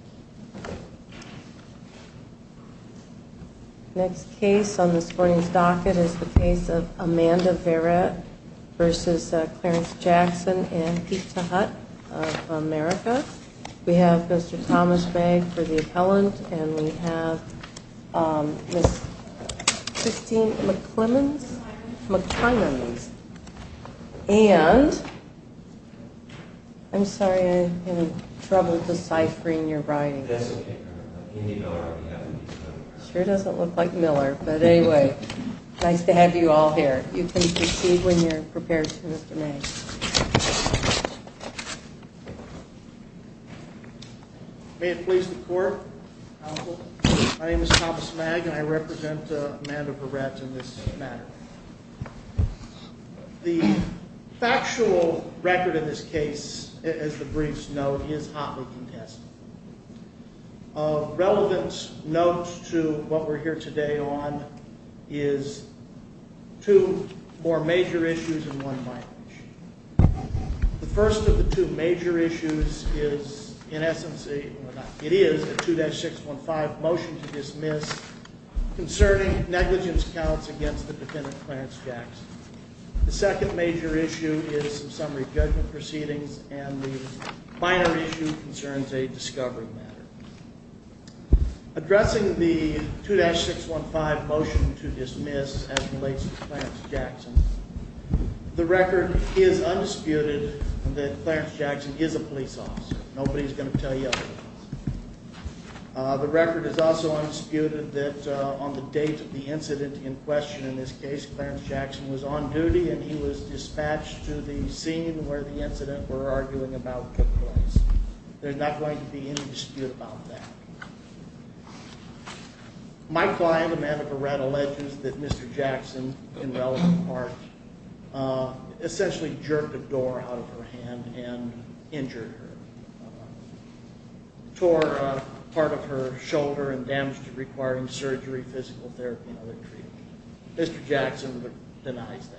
and Pete Tehut of America. We have Mr. Thomas Begg for the appellant, and we have Ms. Christine McClemmons, and I'm sorry I'm having trouble deciphering your writing. It sure doesn't look like Miller, but anyway, nice to have you all here. You can proceed when you're prepared to, Mr. Begg. May it please the court, counsel. My name is Thomas Begg, and I represent Amanda Berrett in this matter. The factual record of this case, as the briefs note, is hotly contested. A relevant note to what we're here today on is two more major issues and one minor issue. The first of the two major issues is, in essence, it is a 2-615 motion to dismiss concerning negligence counts against the defendant Clarence Jackson. The second major issue is some summary judgment proceedings, and the minor issue concerns a discovery matter. Addressing the 2-615 motion to dismiss as it relates to Clarence Jackson, the record is undisputed that Clarence Jackson is a police officer. Nobody's going to tell you otherwise. The record is also undisputed that on the date of the incident in question in this case, Clarence Jackson was on duty and he was dispatched to the scene where the incident we're arguing about took place. There's not going to be any dispute about that. My client, Amanda Berrett, alleges that Mr. Jackson, in relevant part, essentially jerked a door out of her hand and injured her, tore a part of her shoulder and damaged it requiring surgery, physical therapy, and other treatment. Mr. Jackson denies that.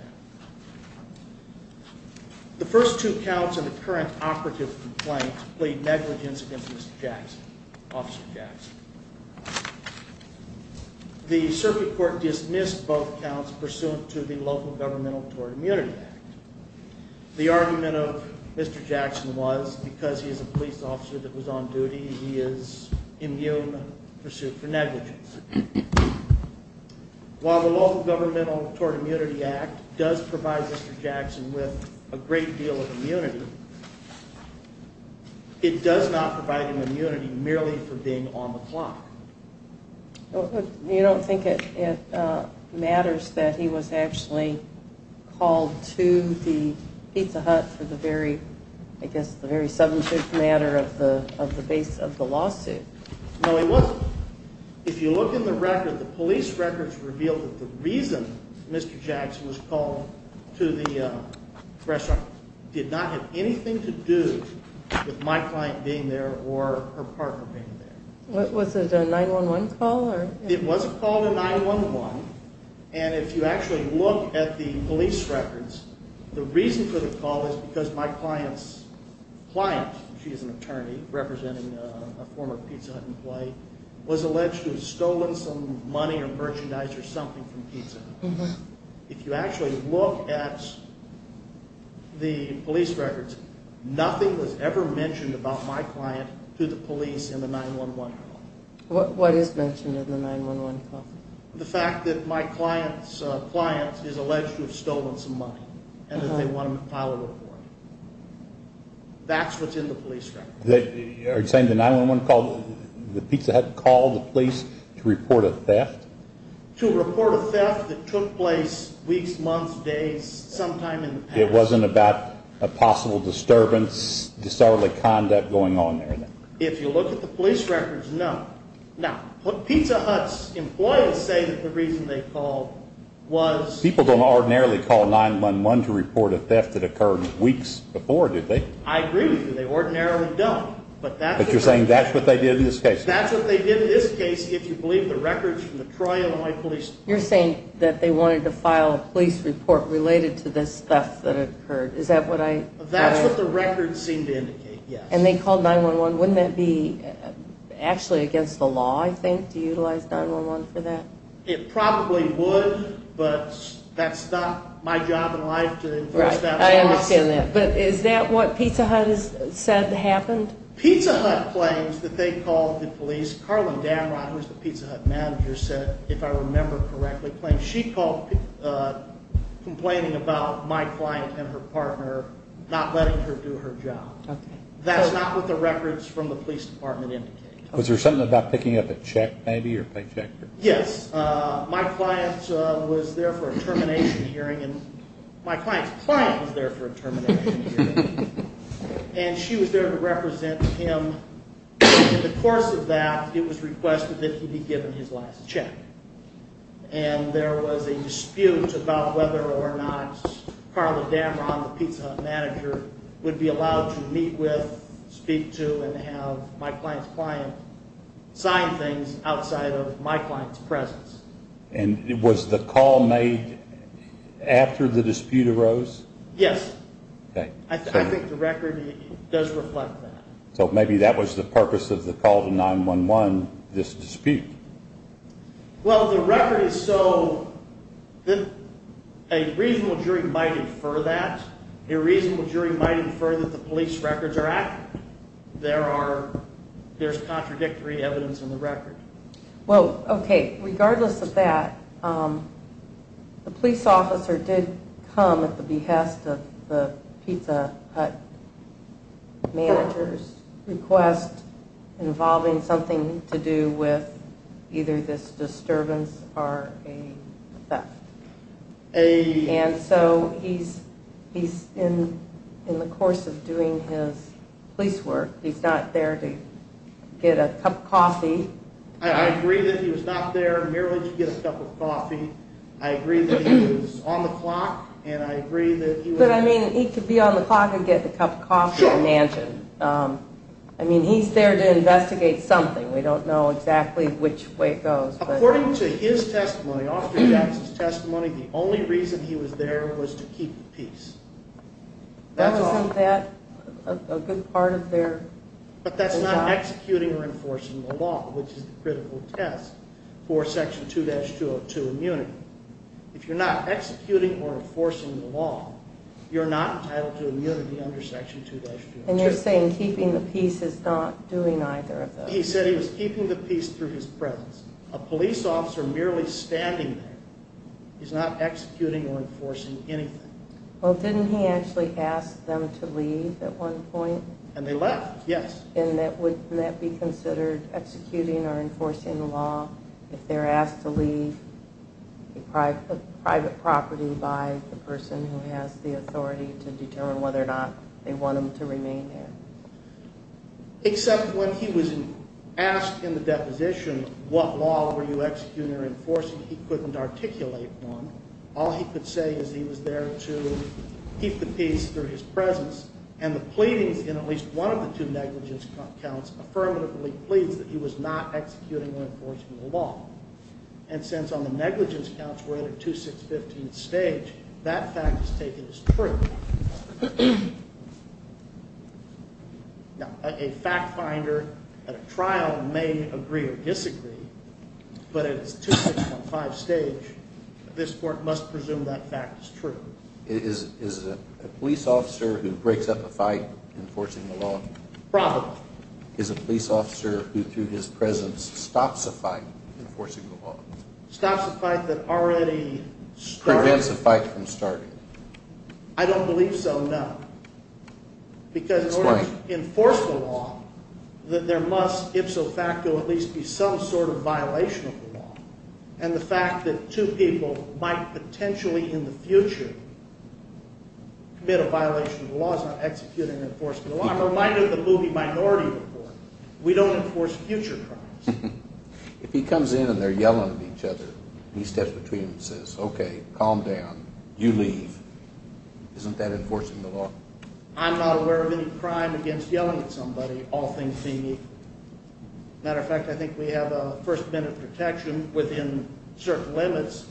The first two counts in the current operative complaint plead negligence against Mr. Jackson, Officer Jackson. The circuit court dismissed both counts pursuant to the Local Governmental Tort Immunity Act. The argument of Mr. Jackson was because he is a police officer that was on duty, he is immune and pursued for negligence. While the Local Governmental Tort Immunity Act does provide Mr. Jackson with a great deal of immunity, it does not provide him immunity merely for being on the clock. You don't think it matters that he was actually called to the Pizza Hut for the very substantive matter of the base of the lawsuit? No, he wasn't. If you look in the record, the police records reveal that the reason Mr. Jackson was called to the restaurant did not have anything to do with my client being there or her partner being there. Was it a 911 call? What is mentioned in the 911 call? The fact that my client's client is alleged to have stolen some money and that they want to file a report. That's what's in the police records. Are you saying the 911 call, the Pizza Hut call the police to report a theft? To report a theft that took place weeks, months, days, sometime in the past. It wasn't about a possible disturbance, disorderly conduct going on there then? If you look at the police records, no. Now, Pizza Hut's employees say that the reason they called was... People don't ordinarily call 911 to report a theft that occurred weeks before, do they? I agree with you. They ordinarily don't. But you're saying that's what they did in this case? That's what they did in this case if you believe the records from the Troy, Illinois Police Department. You're saying that they wanted to file a police report related to this theft that occurred. Is that what I... That's what the records seem to indicate, yes. And they called 911. Wouldn't that be actually against the law, I think, to utilize 911 for that? It probably would, but that's not my job in life to enforce that law. Right. I understand that. But is that what Pizza Hut has said happened? Pizza Hut claims that they called the police. Karlyn Danrod, who's the Pizza Hut manager, said, if I remember correctly, claims she called complaining about my client and her partner not letting her do her job. That's not what the records from the police department indicate. Was there something about picking up a check, maybe, or a paycheck? Yes. My client was there for a termination hearing. My client's client was there for a termination hearing. And she was there to represent him. In the course of that, it was requested that he be given his last check. And there was a dispute about whether or not Karlyn Danrod, the Pizza Hut manager, would be allowed to meet with, speak to, and have my client's client sign things outside of my client's presence. And was the call made after the dispute arose? Yes. I think the record does reflect that. So maybe that was the purpose of the call to 911, this dispute. Well, the record is so that a reasonable jury might infer that. A reasonable jury might infer that the police records are accurate. There's contradictory evidence in the record. Well, okay, regardless of that, the police officer did come at the behest of the Pizza Hut manager's request involving something to do with either this disturbance or a theft. And so he's in the course of doing his police work. He's not there to get a cup of coffee. I agree that he was not there merely to get a cup of coffee. I agree that he was on the clock, and I agree that he was… But, I mean, he could be on the clock and get the cup of coffee at a mansion. Sure. I mean, he's there to investigate something. We don't know exactly which way it goes. According to his testimony, Officer Jackson's testimony, the only reason he was there was to keep the peace. Isn't that a good part of their job? But that's not executing or enforcing the law, which is the critical test for Section 2-202 immunity. If you're not executing or enforcing the law, you're not entitled to immunity under Section 2-202. And you're saying keeping the peace is not doing either of those? He said he was keeping the peace through his presence. A police officer merely standing there is not executing or enforcing anything. Well, didn't he actually ask them to leave at one point? And they left, yes. And wouldn't that be considered executing or enforcing the law if they're asked to leave a private property by the person who has the authority to determine whether or not they want them to remain there? Except when he was asked in the deposition what law were you executing or enforcing, he couldn't articulate one. All he could say is he was there to keep the peace through his presence, and the pleadings in at least one of the two negligence counts affirmatively plead that he was not executing or enforcing the law. And since on the negligence counts we're at a 2-615 stage, that fact is taken as true. Now, a fact finder at a trial may agree or disagree, but at its 2-615 stage, this court must presume that fact is true. Is a police officer who breaks up a fight enforcing the law? Probably. Is a police officer who through his presence stops a fight enforcing the law? Stops a fight that already started. Prevents a fight from starting. I don't believe so, no. Because in order to enforce the law, there must ipso facto at least be some sort of violation of the law. And the fact that two people might potentially in the future commit a violation of the law is not executing or enforcing the law. I'm reminded of the movie Minority Report. We don't enforce future crimes. If he comes in and they're yelling at each other, and he steps between them and says, okay, calm down, you leave, isn't that enforcing the law? I'm not aware of any crime against yelling at somebody, all things being equal. Matter of fact, I think we have a first minute protection within certain limits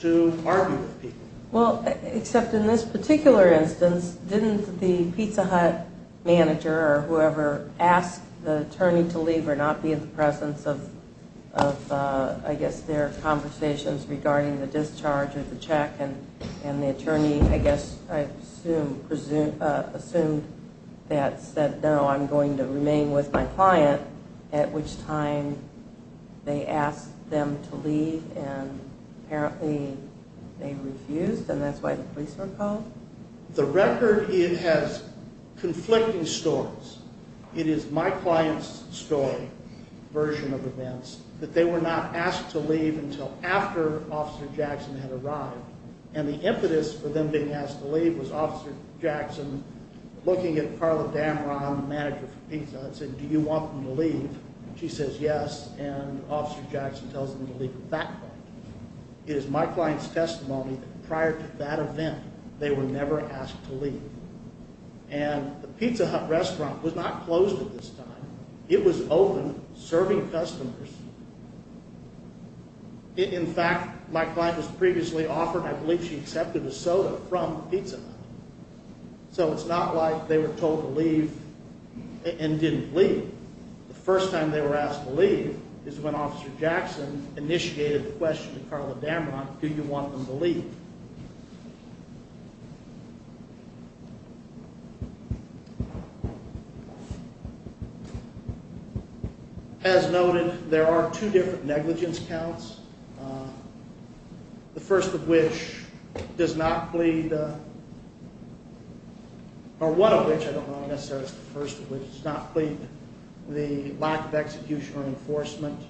to argue with people. Well, except in this particular instance, didn't the Pizza Hut manager or whoever asked the attorney to leave or not be in the presence of, I guess, their conversations regarding the discharge of the check and the attorney, I guess, assumed that said, no, I'm going to remain with my client, at which time they asked them to leave and apparently they refused and that's why the police were called? The record has conflicting stories. It is my client's story, version of events, that they were not asked to leave until after Officer Jackson had arrived and the impetus for them being asked to leave was Officer Jackson looking at Carla Dameron, the manager for pizza, and said, do you want them to leave? She says, yes, and Officer Jackson tells them to leave at that point. It is my client's testimony that prior to that event, they were never asked to leave. And the Pizza Hut restaurant was not closed at this time. It was open, serving customers. In fact, my client was previously offered, I believe she accepted a soda from the Pizza Hut. So it's not like they were told to leave and didn't leave. The first time they were asked to leave is when Officer Jackson initiated the question to Carla Dameron, do you want them to leave? As noted, there are two different negligence counts. The first of which does not plead, or one of which, I don't know necessarily if it's the first of which, does not plead the lack of execution or enforcement.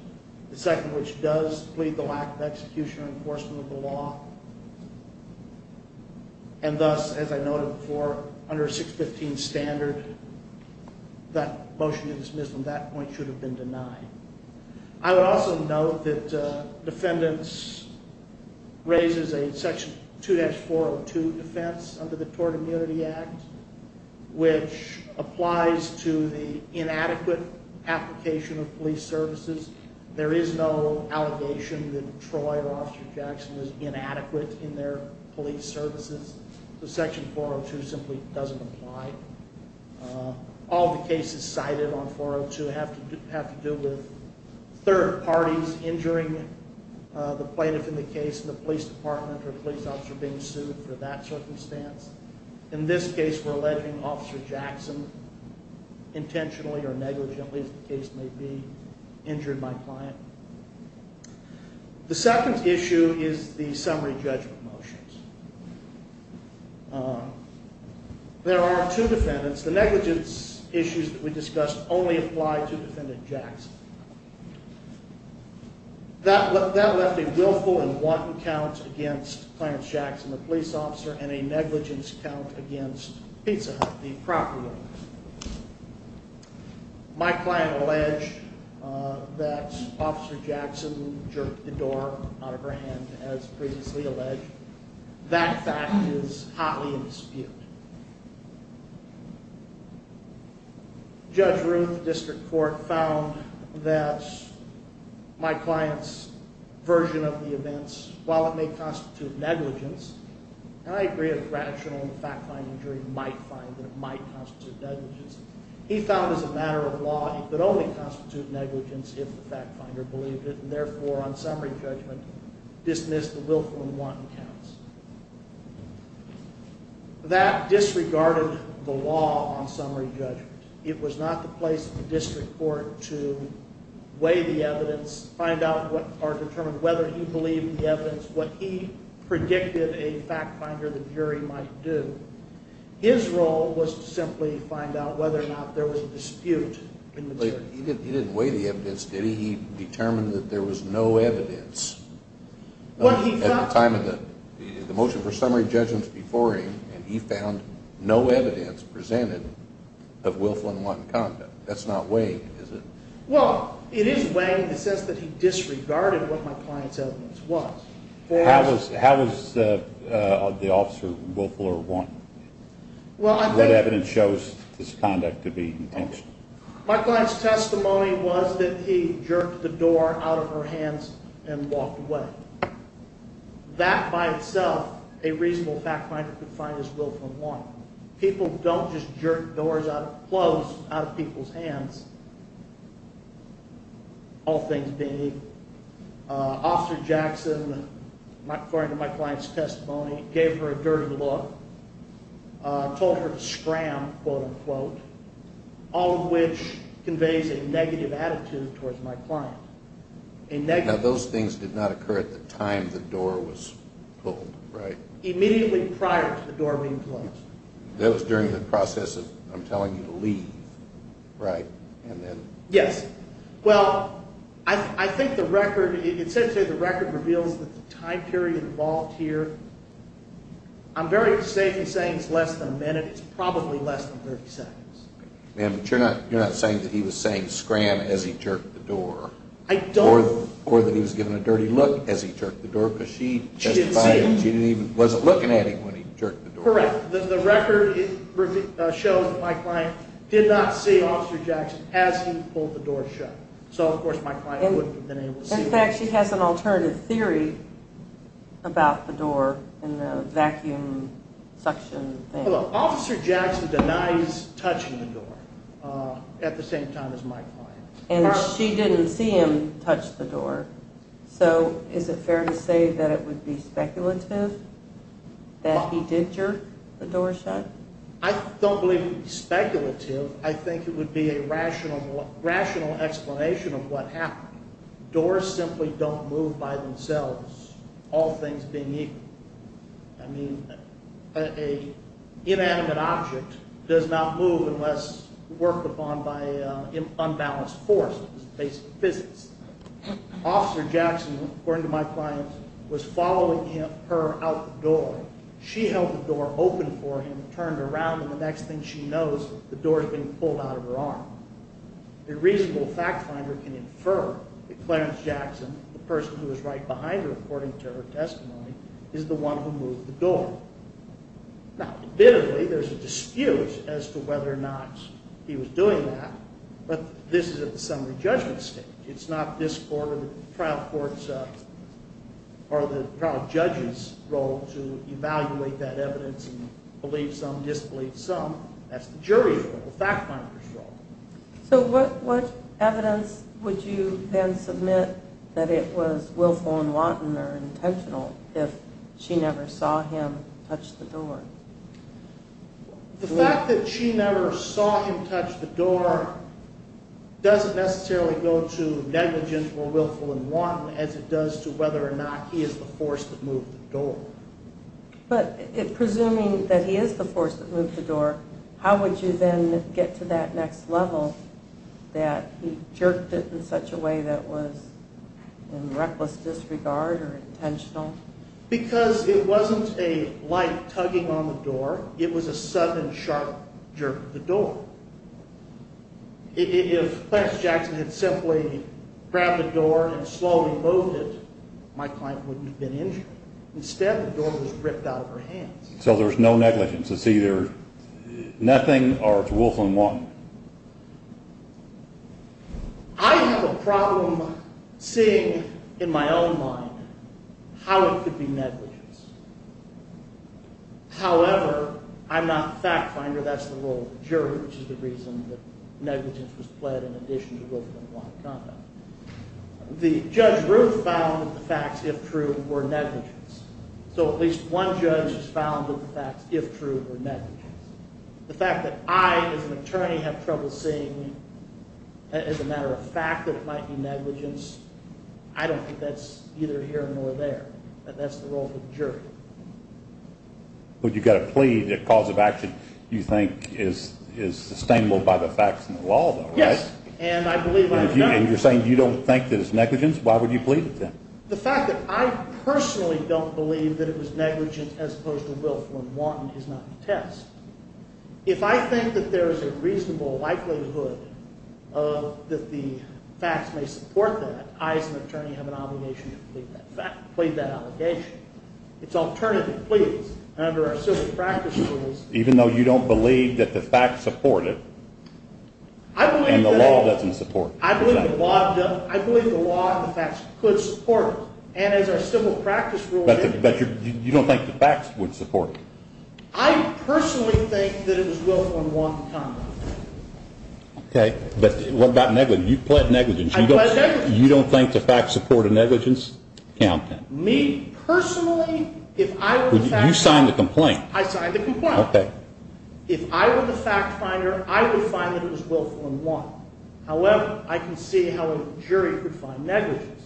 The second of which does plead the lack of execution or enforcement of the law. And thus, as I noted before, under 615 standard, that motion to dismiss them at that point should have been denied. I would also note that defendants raises a section 2-402 defense under the Tort Immunity Act, which applies to the inadequate application of police services. There is no allegation that Troy or Officer Jackson was inadequate in their police services. So section 402 simply doesn't apply. All the cases cited on 402 have to do with third parties injuring the plaintiff in the case, and the police department or police officer being sued for that circumstance. In this case, we're alleging Officer Jackson intentionally or negligently, as the case may be, injured my client. The second issue is the summary judgment motions. There are two defendants. The negligence issues that we discussed only apply to Defendant Jackson. That left a willful and wanton count against Clarence Jackson, the police officer, and a negligence count against Pizza Hut, the property owner. My client alleged that Officer Jackson jerked the door out of her hand, as previously alleged. Judge Ruth, District Court, found that my client's version of the events, while it may constitute negligence, and I agree that it's rational and the fact-finding jury might find that it might constitute negligence, he found as a matter of law it could only constitute negligence if the fact-finder believed it, and therefore on summary judgment dismissed the willful and wanton counts. That disregarded the law on summary judgment. It was not the place of the District Court to weigh the evidence, find out or determine whether he believed the evidence, what he predicted a fact-finder, the jury, might do. His role was to simply find out whether or not there was a dispute in the jury. He didn't weigh the evidence, did he? He determined that there was no evidence. At the time of the motion for summary judgments before him, he found no evidence presented of willful and wanton conduct. That's not weighing, is it? Well, it is weighing in the sense that he disregarded what my client's evidence was. How was the officer willful or wanton? What evidence shows this conduct to be intentional? My client's testimony was that he jerked the door out of her hands and walked away. That, by itself, a reasonable fact-finder could find as willful and wanton. People don't just jerk doors closed out of people's hands, all things being, Officer Jackson, according to my client's testimony, gave her a dirty look, told her to scram, quote-unquote. All of which conveys a negative attitude towards my client. Now, those things did not occur at the time the door was pulled, right? Immediately prior to the door being closed. That was during the process of him telling you to leave, right? Yes. Well, I think the record, essentially the record reveals the time period involved here. I'm very safe in saying it's less than a minute. It's probably less than 30 seconds. Ma'am, but you're not saying that he was saying scram as he jerked the door. I don't. Or that he was giving a dirty look as he jerked the door because she testified that she wasn't looking at him when he jerked the door. Correct. The record shows that my client did not see Officer Jackson as he pulled the door shut. So, of course, my client wouldn't have been able to see him. In fact, she has an alternative theory about the door and the vacuum suction thing. Officer Jackson denies touching the door at the same time as my client. And she didn't see him touch the door. So, is it fair to say that it would be speculative that he did jerk the door shut? I don't believe it would be speculative. I think it would be a rational explanation of what happened. Doors simply don't move by themselves, all things being equal. I mean, an inanimate object does not move unless worked upon by an unbalanced force. It's basic physics. Officer Jackson, according to my client, was following her out the door. She held the door open for him, turned around, and the next thing she knows, the door has been pulled out of her arm. A reasonable fact finder can infer that Clarence Jackson, the person who was right behind her, according to her testimony, is the one who moved the door. Now, admittedly, there's a dispute as to whether or not he was doing that, but this is at the summary judgment stage. It's not this court or the trial court's or the trial judge's role to evaluate that evidence and believe some, disbelieve some. That's the jury's role, the fact finder's role. So what evidence would you then submit that it was willful and wanton or intentional if she never saw him touch the door? The fact that she never saw him touch the door doesn't necessarily go to negligence or willful and wanton as it does to whether or not he is the force that moved the door. But presuming that he is the force that moved the door, how would you then get to that next level that he jerked it in such a way that was in reckless disregard or intentional? Because it wasn't a light tugging on the door. It was a sudden, sharp jerk of the door. If Clarence Jackson had simply grabbed the door and slowly moved it, my client wouldn't have been injured. Instead, the door was ripped out of her hands. So there's no negligence. It's either nothing or it's willful and wanton. I have a problem seeing in my own mind how it could be negligence. However, I'm not the fact finder. That's the role of the jury, which is the reason that negligence was pled in addition to willful and wanton conduct. Judge Ruth found that the facts, if true, were negligence. So at least one judge has found that the facts, if true, were negligence. The fact that I, as an attorney, have trouble seeing as a matter of fact that it might be negligence, I don't think that's either here nor there. And that's the role of the jury. But you've got to plead the cause of action you think is sustainable by the facts and the law, though, right? Yes, and I believe I've done that. And you're saying you don't think that it's negligence? Why would you plead it then? The fact that I personally don't believe that it was negligence as opposed to willful and wanton is not the test. If I think that there's a reasonable likelihood that the facts may support that, I, as an attorney, have an obligation to plead that allegation. It's alternative pleas under our civil practice rules. Even though you don't believe that the facts support it and the law doesn't support it? I believe the law and the facts could support it. And as our civil practice rules indicate. But you don't think the facts would support it? I personally think that it was willful and wanton conduct. Okay, but what about negligence? You pled negligence. You don't think the facts support a negligence count? Me, personally, if I were the fact finder. You signed the complaint. I signed the complaint. Okay. If I were the fact finder, I would find that it was willful and wanton. However, I can see how a jury could find negligence.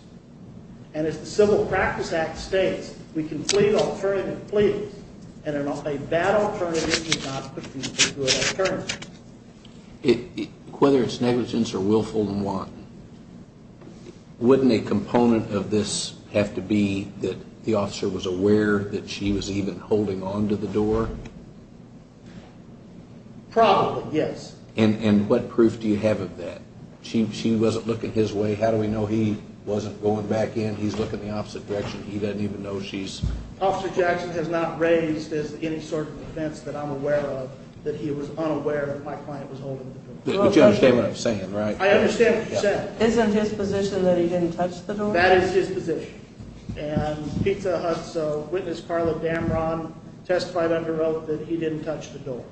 And as the Civil Practice Act states, we can plead alternative pleas, and a bad alternative is not a good alternative. Whether it's negligence or willful and wanton, wouldn't a component of this have to be that the officer was aware that she was even holding on to the door? Probably, yes. And what proof do you have of that? She wasn't looking his way. How do we know he wasn't going back in? He's looking the opposite direction. He doesn't even know she's… Officer Jackson has not raised any sort of defense that I'm aware of that he was unaware that my client was holding the door. But you understand what I'm saying, right? I understand what you said. Isn't his position that he didn't touch the door? That is his position. And Pizza Hut's witness, Carla Damron, testified under oath that he didn't touch the door.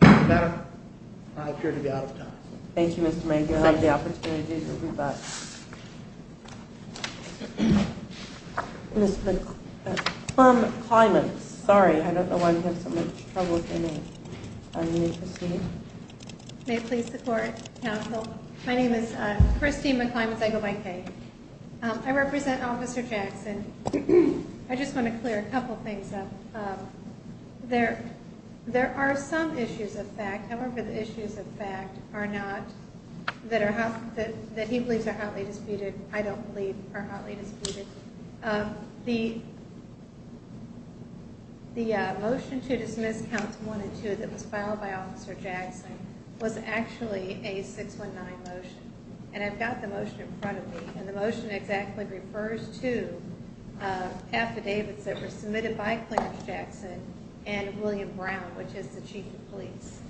Madam, I appear to be out of time. Thank you, Mr. Major. Thank you. You have the opportunity to rebut. Ms. McClymonds. Sorry, I don't know why you have so much trouble with your name. Are you interested? May it please the Court, Counsel? My name is Christine McClymonds. I go by Kay. I represent Officer Jackson. I just want to clear a couple things up. There are some issues of fact. However, the issues of fact are not that he believes are hotly disputed. I don't believe are hotly disputed. The motion to dismiss counts one and two that was filed by Officer Jackson was actually a 619 motion. And I've got the motion in front of me. And the motion exactly refers to affidavits that were submitted by Clarence Jackson and William Brown, which is the Chief of Police.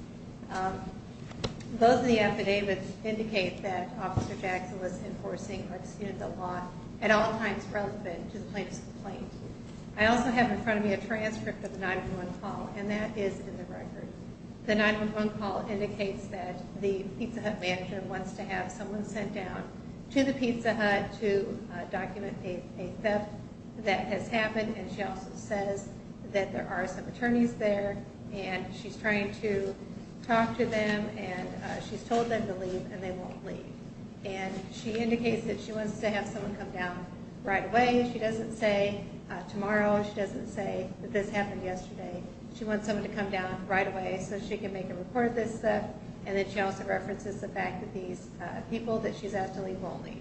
Both of the affidavits indicate that Officer Jackson was enforcing or disputed the law at all times relevant to the plaintiff's complaint. I also have in front of me a transcript of the 911 call, and that is in the record. The 911 call indicates that the Pizza Hut manager wants to have someone sent down to the Pizza Hut to document a theft that has happened. And she also says that there are some attorneys there, and she's trying to talk to them. And she's told them to leave, and they won't leave. And she indicates that she wants to have someone come down right away. She doesn't say tomorrow. She doesn't say that this happened yesterday. She wants someone to come down right away so she can make a report of this theft. And then she also references the fact that these people that she's asked to leave won't leave.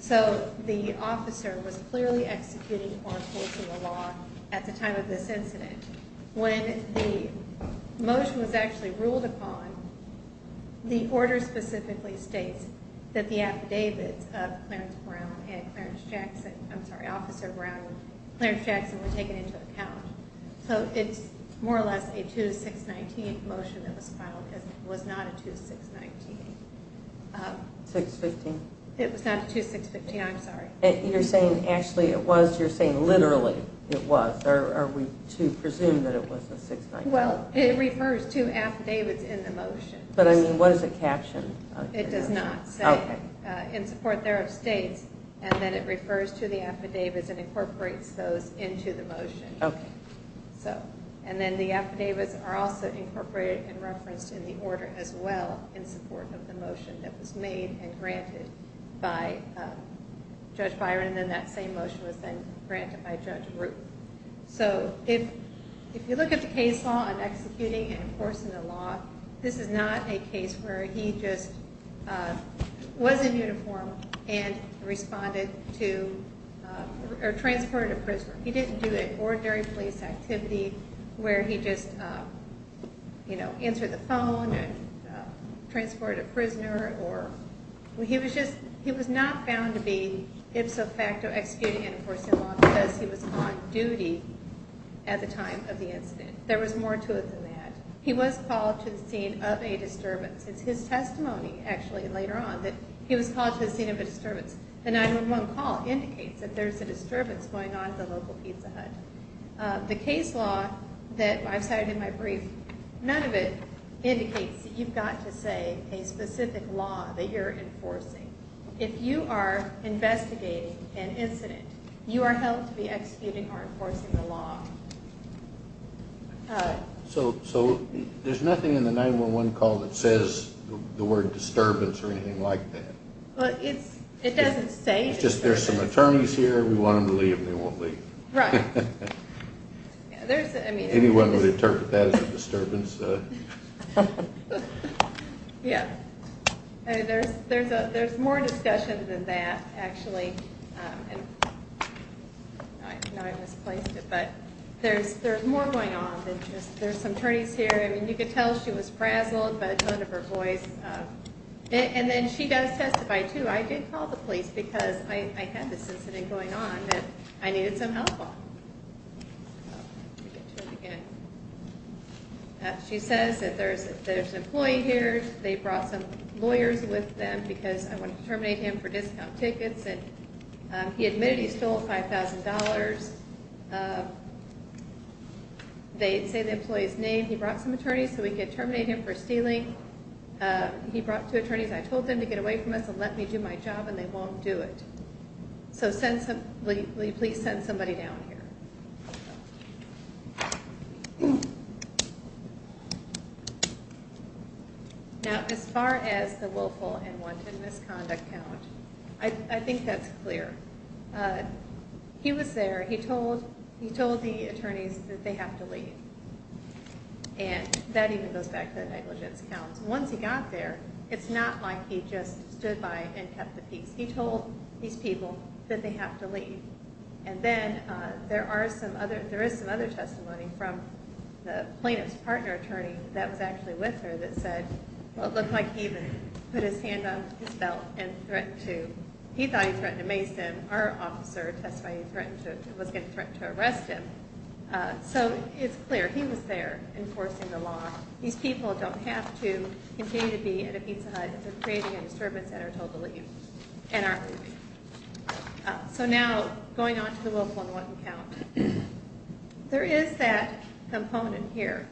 So the officer was clearly executing or enforcing the law at the time of this incident. When the motion was actually ruled upon, the order specifically states that the affidavits of Clarence Brown and Clarence Jackson – I'm sorry, Officer Brown and Clarence Jackson were taken into account. So it's more or less a 2-619 motion that was filed. It was not a 2-619. 615? It was not a 2-615. I'm sorry. You're saying actually it was? You're saying literally it was? Or are we to presume that it was a 619? Well, it refers to affidavits in the motion. But, I mean, what is the caption? It does not say, in support there of states. And then it refers to the affidavits and incorporates those into the motion. Okay. So, and then the affidavits are also incorporated and referenced in the order as well in support of the motion that was made and granted by Judge Byron. And then that same motion was then granted by Judge Ruth. So if you look at the case law and executing and enforcing the law, this is not a case where he just was in uniform and responded to or transported to prison. He didn't do an ordinary police activity where he just, you know, answered the phone and transported a prisoner. He was not found to be ipso facto executing and enforcing the law because he was on duty at the time of the incident. There was more to it than that. He was called to the scene of a disturbance. It's his testimony, actually, later on, that he was called to the scene of a disturbance. The 911 call indicates that there's a disturbance going on at the local Pizza Hut. The case law that I've cited in my brief, none of it indicates that you've got to say a specific law that you're enforcing. If you are investigating an incident, you are held to be executing or enforcing the law. So there's nothing in the 911 call that says the word disturbance or anything like that? Well, it doesn't say disturbance. It's just there's some attorneys here, we want them to leave, and they won't leave. Right. Anyone would interpret that as a disturbance. Yeah. There's more discussion than that, actually. I know I misplaced it, but there's more going on than just there's some attorneys here. I mean, you could tell she was frazzled by the tone of her voice. And then she does testify, too. I did call the police because I had this incident going on that I needed some help on. She says that there's an employee here. They brought some lawyers with them because I wanted to terminate him for discount tickets, and he admitted he stole $5,000. They say the employee's name. He brought some attorneys so we could terminate him for stealing. He brought two attorneys. I told them to get away from us and let me do my job, and they won't do it. So please send somebody down here. Now, as far as the willful and wanted misconduct count, I think that's clear. He was there. He told the attorneys that they have to leave. And that even goes back to the negligence count. Once he got there, it's not like he just stood by and kept the peace. He told these people that they have to leave. And then there is some other testimony from the plaintiff's partner attorney that was actually with her that said, well, it looked like he even put his hand on his belt and threatened to – he thought he threatened to mace him. Our officer testified he was getting threatened to arrest him. So it's clear. He was there enforcing the law. These people don't have to continue to be at a pizza hut if they're creating a disturbance and are told to leave and aren't leaving. So now, going on to the willful and wanted count. There is that component here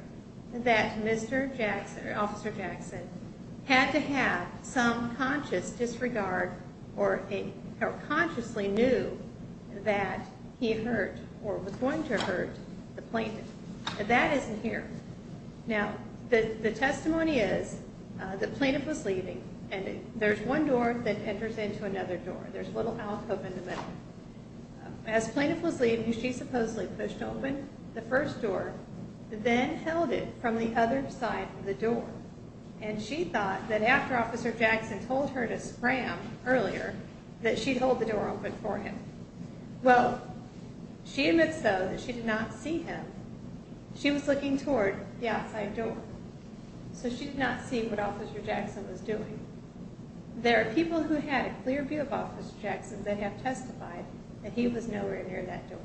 that Mr. Jackson, Officer Jackson, had to have some conscious disregard or consciously knew that he hurt or was going to hurt the plaintiff. But that isn't here. Now, the testimony is the plaintiff was leaving and there's one door that enters into another door. There's a little alcove in the middle. As the plaintiff was leaving, she supposedly pushed open the first door, then held it from the other side of the door. And she thought that after Officer Jackson told her to scram earlier, that she'd hold the door open for him. Well, she admits, though, that she did not see him. She was looking toward the outside door. So she did not see what Officer Jackson was doing. There are people who had a clear view of Officer Jackson that have testified that he was nowhere near that door.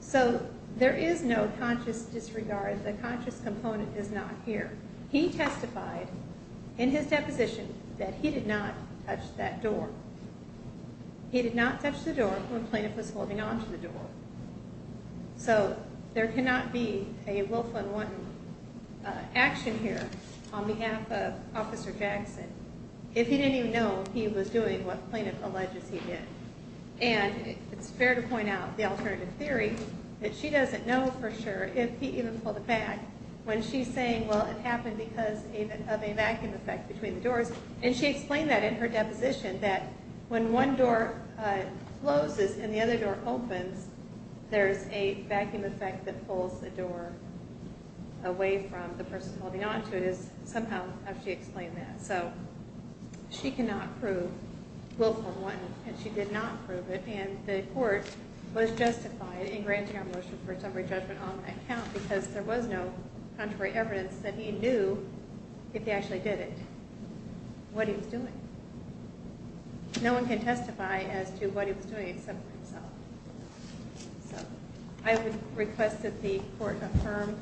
So there is no conscious disregard. The conscious component is not here. He testified in his deposition that he did not touch that door. He did not touch the door when the plaintiff was holding on to the door. So there cannot be a Wilf and Wanton action here on behalf of Officer Jackson if he didn't even know he was doing what the plaintiff alleges he did. And it's fair to point out the alternative theory that she doesn't know for sure if he even pulled it back when she's saying, well, it happened because of a vacuum effect between the doors. And she explained that in her deposition, that when one door closes and the other door opens, there's a vacuum effect that pulls the door away from the person holding on to it. Somehow, she explained that. So she cannot prove Wilf and Wanton, and she did not prove it. And the court was justified in granting our motion for a temporary judgment on that count because there was no contrary evidence that he knew if he actually did it. What he was doing. No one can testify as to what he was doing except for himself. So I would request that the court affirm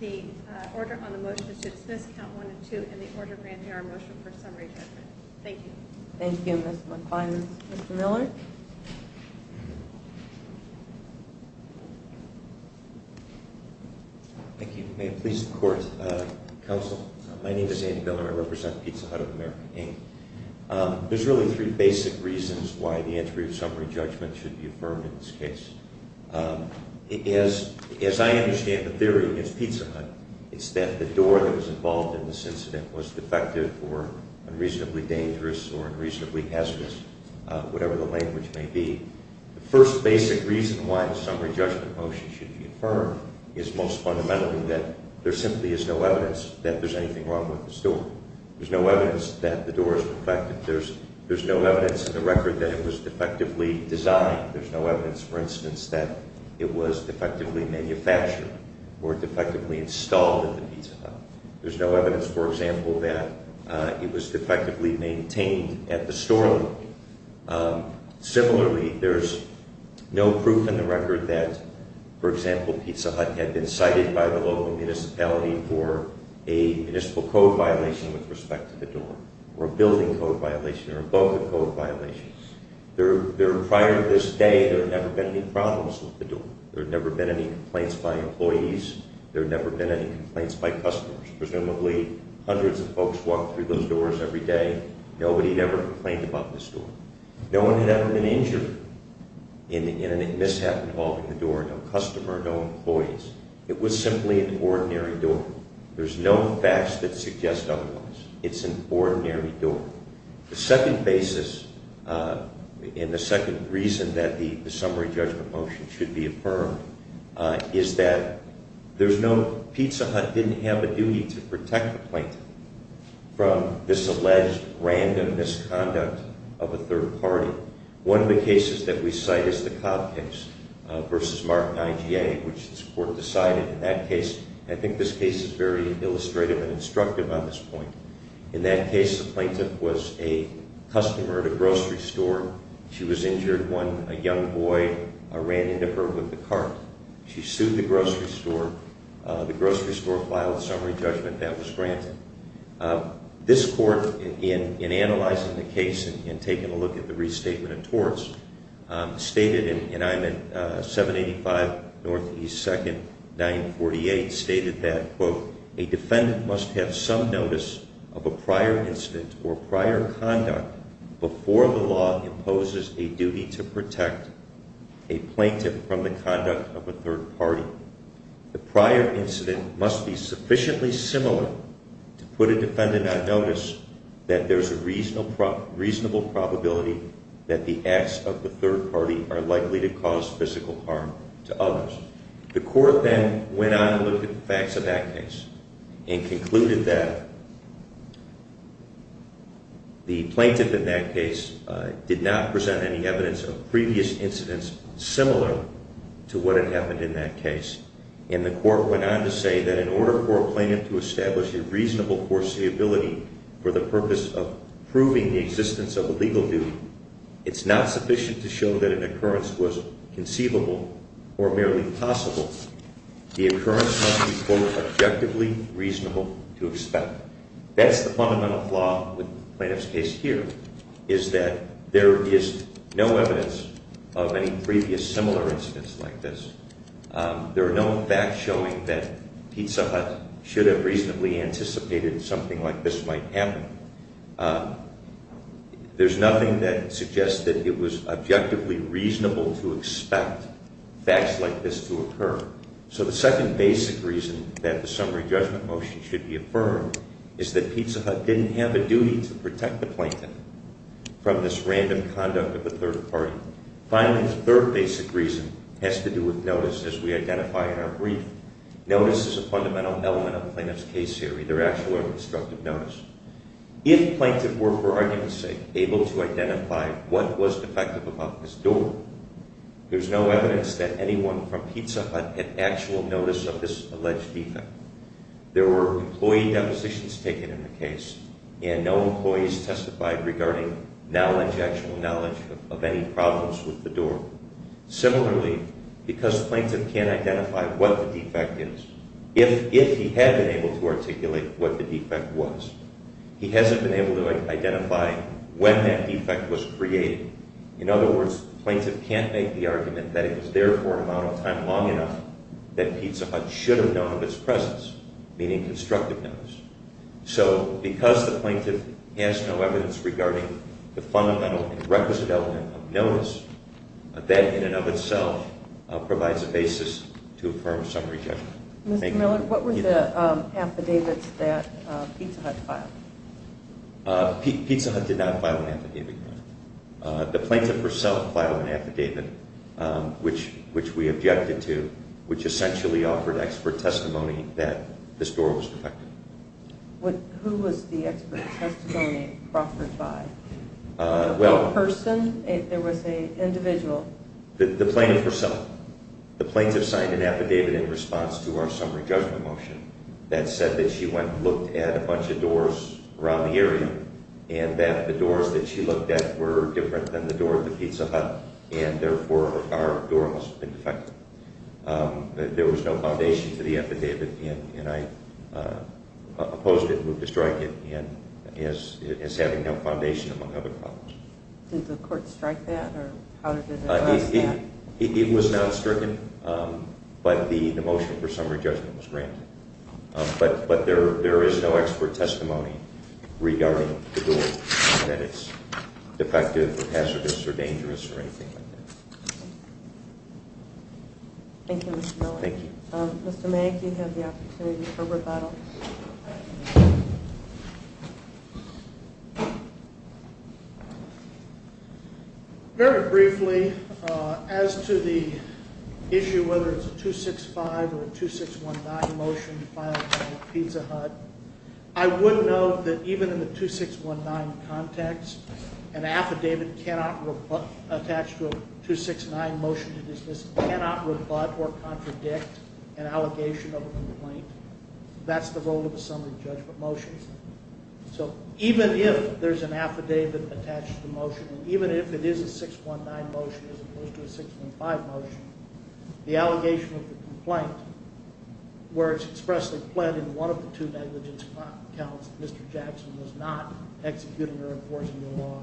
the order on the motion to dismiss Count 1 and 2 and the order granting our motion for a summary judgment. Thank you. Thank you, Ms. McFarland. Mr. Miller? Thank you. May it please the court. Counsel, my name is Andy Miller. I represent Pizza Hut of America, Inc. There's really three basic reasons why the entry of summary judgment should be affirmed in this case. As I understand the theory against Pizza Hut, it's that the door that was involved in this incident was defective or unreasonably dangerous or unreasonably hazardous, whatever the language may be. The first basic reason why the summary judgment motion should be affirmed is most fundamentally that there simply is no evidence that there's anything wrong with the store. There's no evidence that the door is defective. There's no evidence in the record that it was defectively designed. There's no evidence, for instance, that it was defectively manufactured or defectively installed at the Pizza Hut. There's no evidence, for example, that it was defectively maintained at the store. Similarly, there's no proof in the record that, for example, Pizza Hut had been cited by the local municipality for a municipal code violation with respect to the door or a building code violation or both code violations. Prior to this day, there had never been any problems with the door. There had never been any complaints by employees. There had never been any complaints by customers. Presumably, hundreds of folks walked through those doors every day. Nobody had ever complained about this door. No one had ever been injured in a mishap involving the door. No customer, no employees. It was simply an ordinary door. There's no facts that suggest otherwise. It's an ordinary door. The second basis and the second reason that the summary judgment motion should be affirmed is that there's no – Pizza Hut didn't have a duty to protect the plaintiff from this alleged random misconduct of a third party. One of the cases that we cite is the Cobb case versus Mark IGA, which this court decided in that case. I think this case is very illustrative and instructive on this point. In that case, the plaintiff was a customer at a grocery store. She was injured. One young boy ran into her with a cart. She sued the grocery store. The grocery store filed a summary judgment. That was granted. This court, in analyzing the case and taking a look at the restatement of torts, stated – and I'm at 785 Northeast 2nd, 948 – stated that, quote, a plaintiff from the conduct of a third party. The prior incident must be sufficiently similar to put a defendant on notice that there's a reasonable probability that the acts of the third party are likely to cause physical harm to others. The court then went on and looked at the facts of that case and concluded that the plaintiff in that case did not present any evidence of previous incidents similar to what had happened in that case. And the court went on to say that in order for a plaintiff to establish a reasonable foreseeability for the purpose of proving the existence of a legal duty, it's not sufficient to show that an occurrence was conceivable or merely possible. The occurrence must be, quote, objectively reasonable to expect. That's the fundamental flaw with the plaintiff's case here, is that there is no evidence of any previous similar incidents like this. There are no facts showing that Pizza Hut should have reasonably anticipated something like this might happen. There's nothing that suggests that it was objectively reasonable to expect facts like this to occur. So the second basic reason that the summary judgment motion should be affirmed is that Pizza Hut didn't have a duty to protect the plaintiff from this random conduct of the third party. Finally, the third basic reason has to do with notice, as we identify in our brief. Notice is a fundamental element of a plaintiff's case theory. If plaintiff were, for argument's sake, able to identify what was defective about this door, there's no evidence that anyone from Pizza Hut had actual notice of this alleged defect. There were employee depositions taken in the case, and no employees testified regarding actual knowledge of any problems with the door. Similarly, because plaintiff can't identify what the defect is, if he had been able to articulate what the defect was, he hasn't been able to identify when that defect was created. In other words, the plaintiff can't make the argument that it was there for an amount of time long enough that Pizza Hut should have known of its presence, meaning constructive notice. So because the plaintiff has no evidence regarding the fundamental and requisite element of notice, that in and of itself provides a basis to affirm summary judgment. Mr. Miller, what were the affidavits that Pizza Hut filed? Pizza Hut did not file an affidavit. The plaintiff herself filed an affidavit, which we objected to, which essentially offered expert testimony that this door was defective. Who was the expert testimony offered by? A person? There was an individual? The plaintiff herself. The plaintiff signed an affidavit in response to our summary judgment motion that said that she went and looked at a bunch of doors around the area and that the doors that she looked at were different than the door of the Pizza Hut, and therefore our door must have been defective. There was no foundation to the affidavit, and I opposed it, and moved to strike it as having no foundation, among other problems. Did the court strike that? It was not stricken, but the motion for summary judgment was granted. But there is no expert testimony regarding the door, that it's defective or hazardous or dangerous or anything like that. Thank you, Mr. Miller. Thank you. Mr. Mank, you have the opportunity for rebuttal. Very briefly, as to the issue whether it's a 265 or a 2619 motion to file against Pizza Hut, I would note that even in the 2619 context, an affidavit attached to a 269 motion to dismiss cannot rebut or contradict an allegation of a complaint. That's the role of a summary judgment motion. So even if there's an affidavit attached to the motion, even if it is a 619 motion as opposed to a 615 motion, the allegation of the complaint, where it's expressly pled in one of the two negligence counts that Mr. Jackson was not executing or enforcing the law,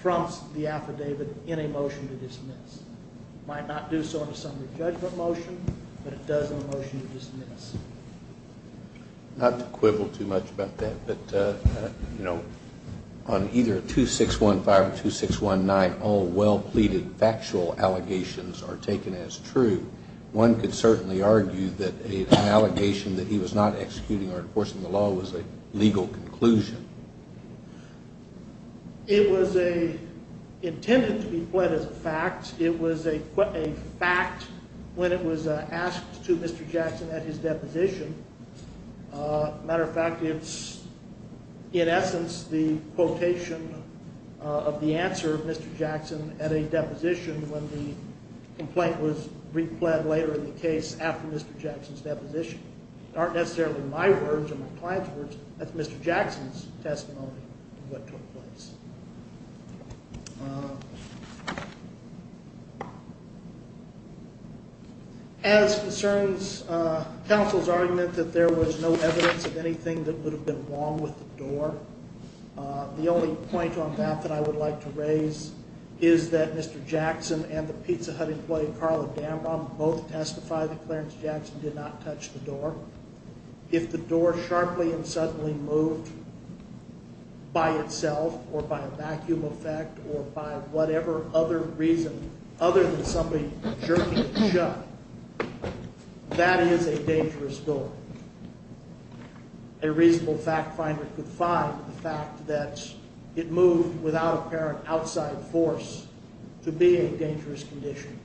trumps the affidavit in a motion to dismiss. It might not do so in a summary judgment motion, but it does in a motion to dismiss. Not to quibble too much about that, but on either 2615 or 2619, all well-pleaded factual allegations are taken as true. One could certainly argue that an allegation that he was not executing or enforcing the law was a legal conclusion. It was intended to be pled as a fact. It was a fact when it was asked to Mr. Jackson at his deposition. Matter of fact, it's, in essence, the quotation of the answer of Mr. Jackson at a deposition when the complaint was repled later in the case after Mr. Jackson's deposition. It aren't necessarily my words or my client's words. That's Mr. Jackson's testimony of what took place. As concerns counsel's argument that there was no evidence of anything that would have been wrong with the door, the only point on that that I would like to raise is that Mr. Jackson and the Pizza Hut employee Carla Dambach both testified that Clarence Jackson did not touch the door. If the door sharply and suddenly moved by itself or by a vacuum effect or by whatever other reason other than somebody jerking it shut, that is a dangerous door. A reasonable fact finder could find the fact that it moved without apparent outside force to be a dangerous condition.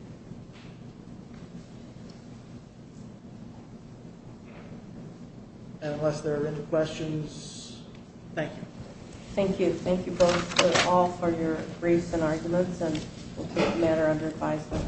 And unless there are any questions, thank you. Thank you. Thank you both, all, for your briefs and arguments. And we'll take the matter under advisement.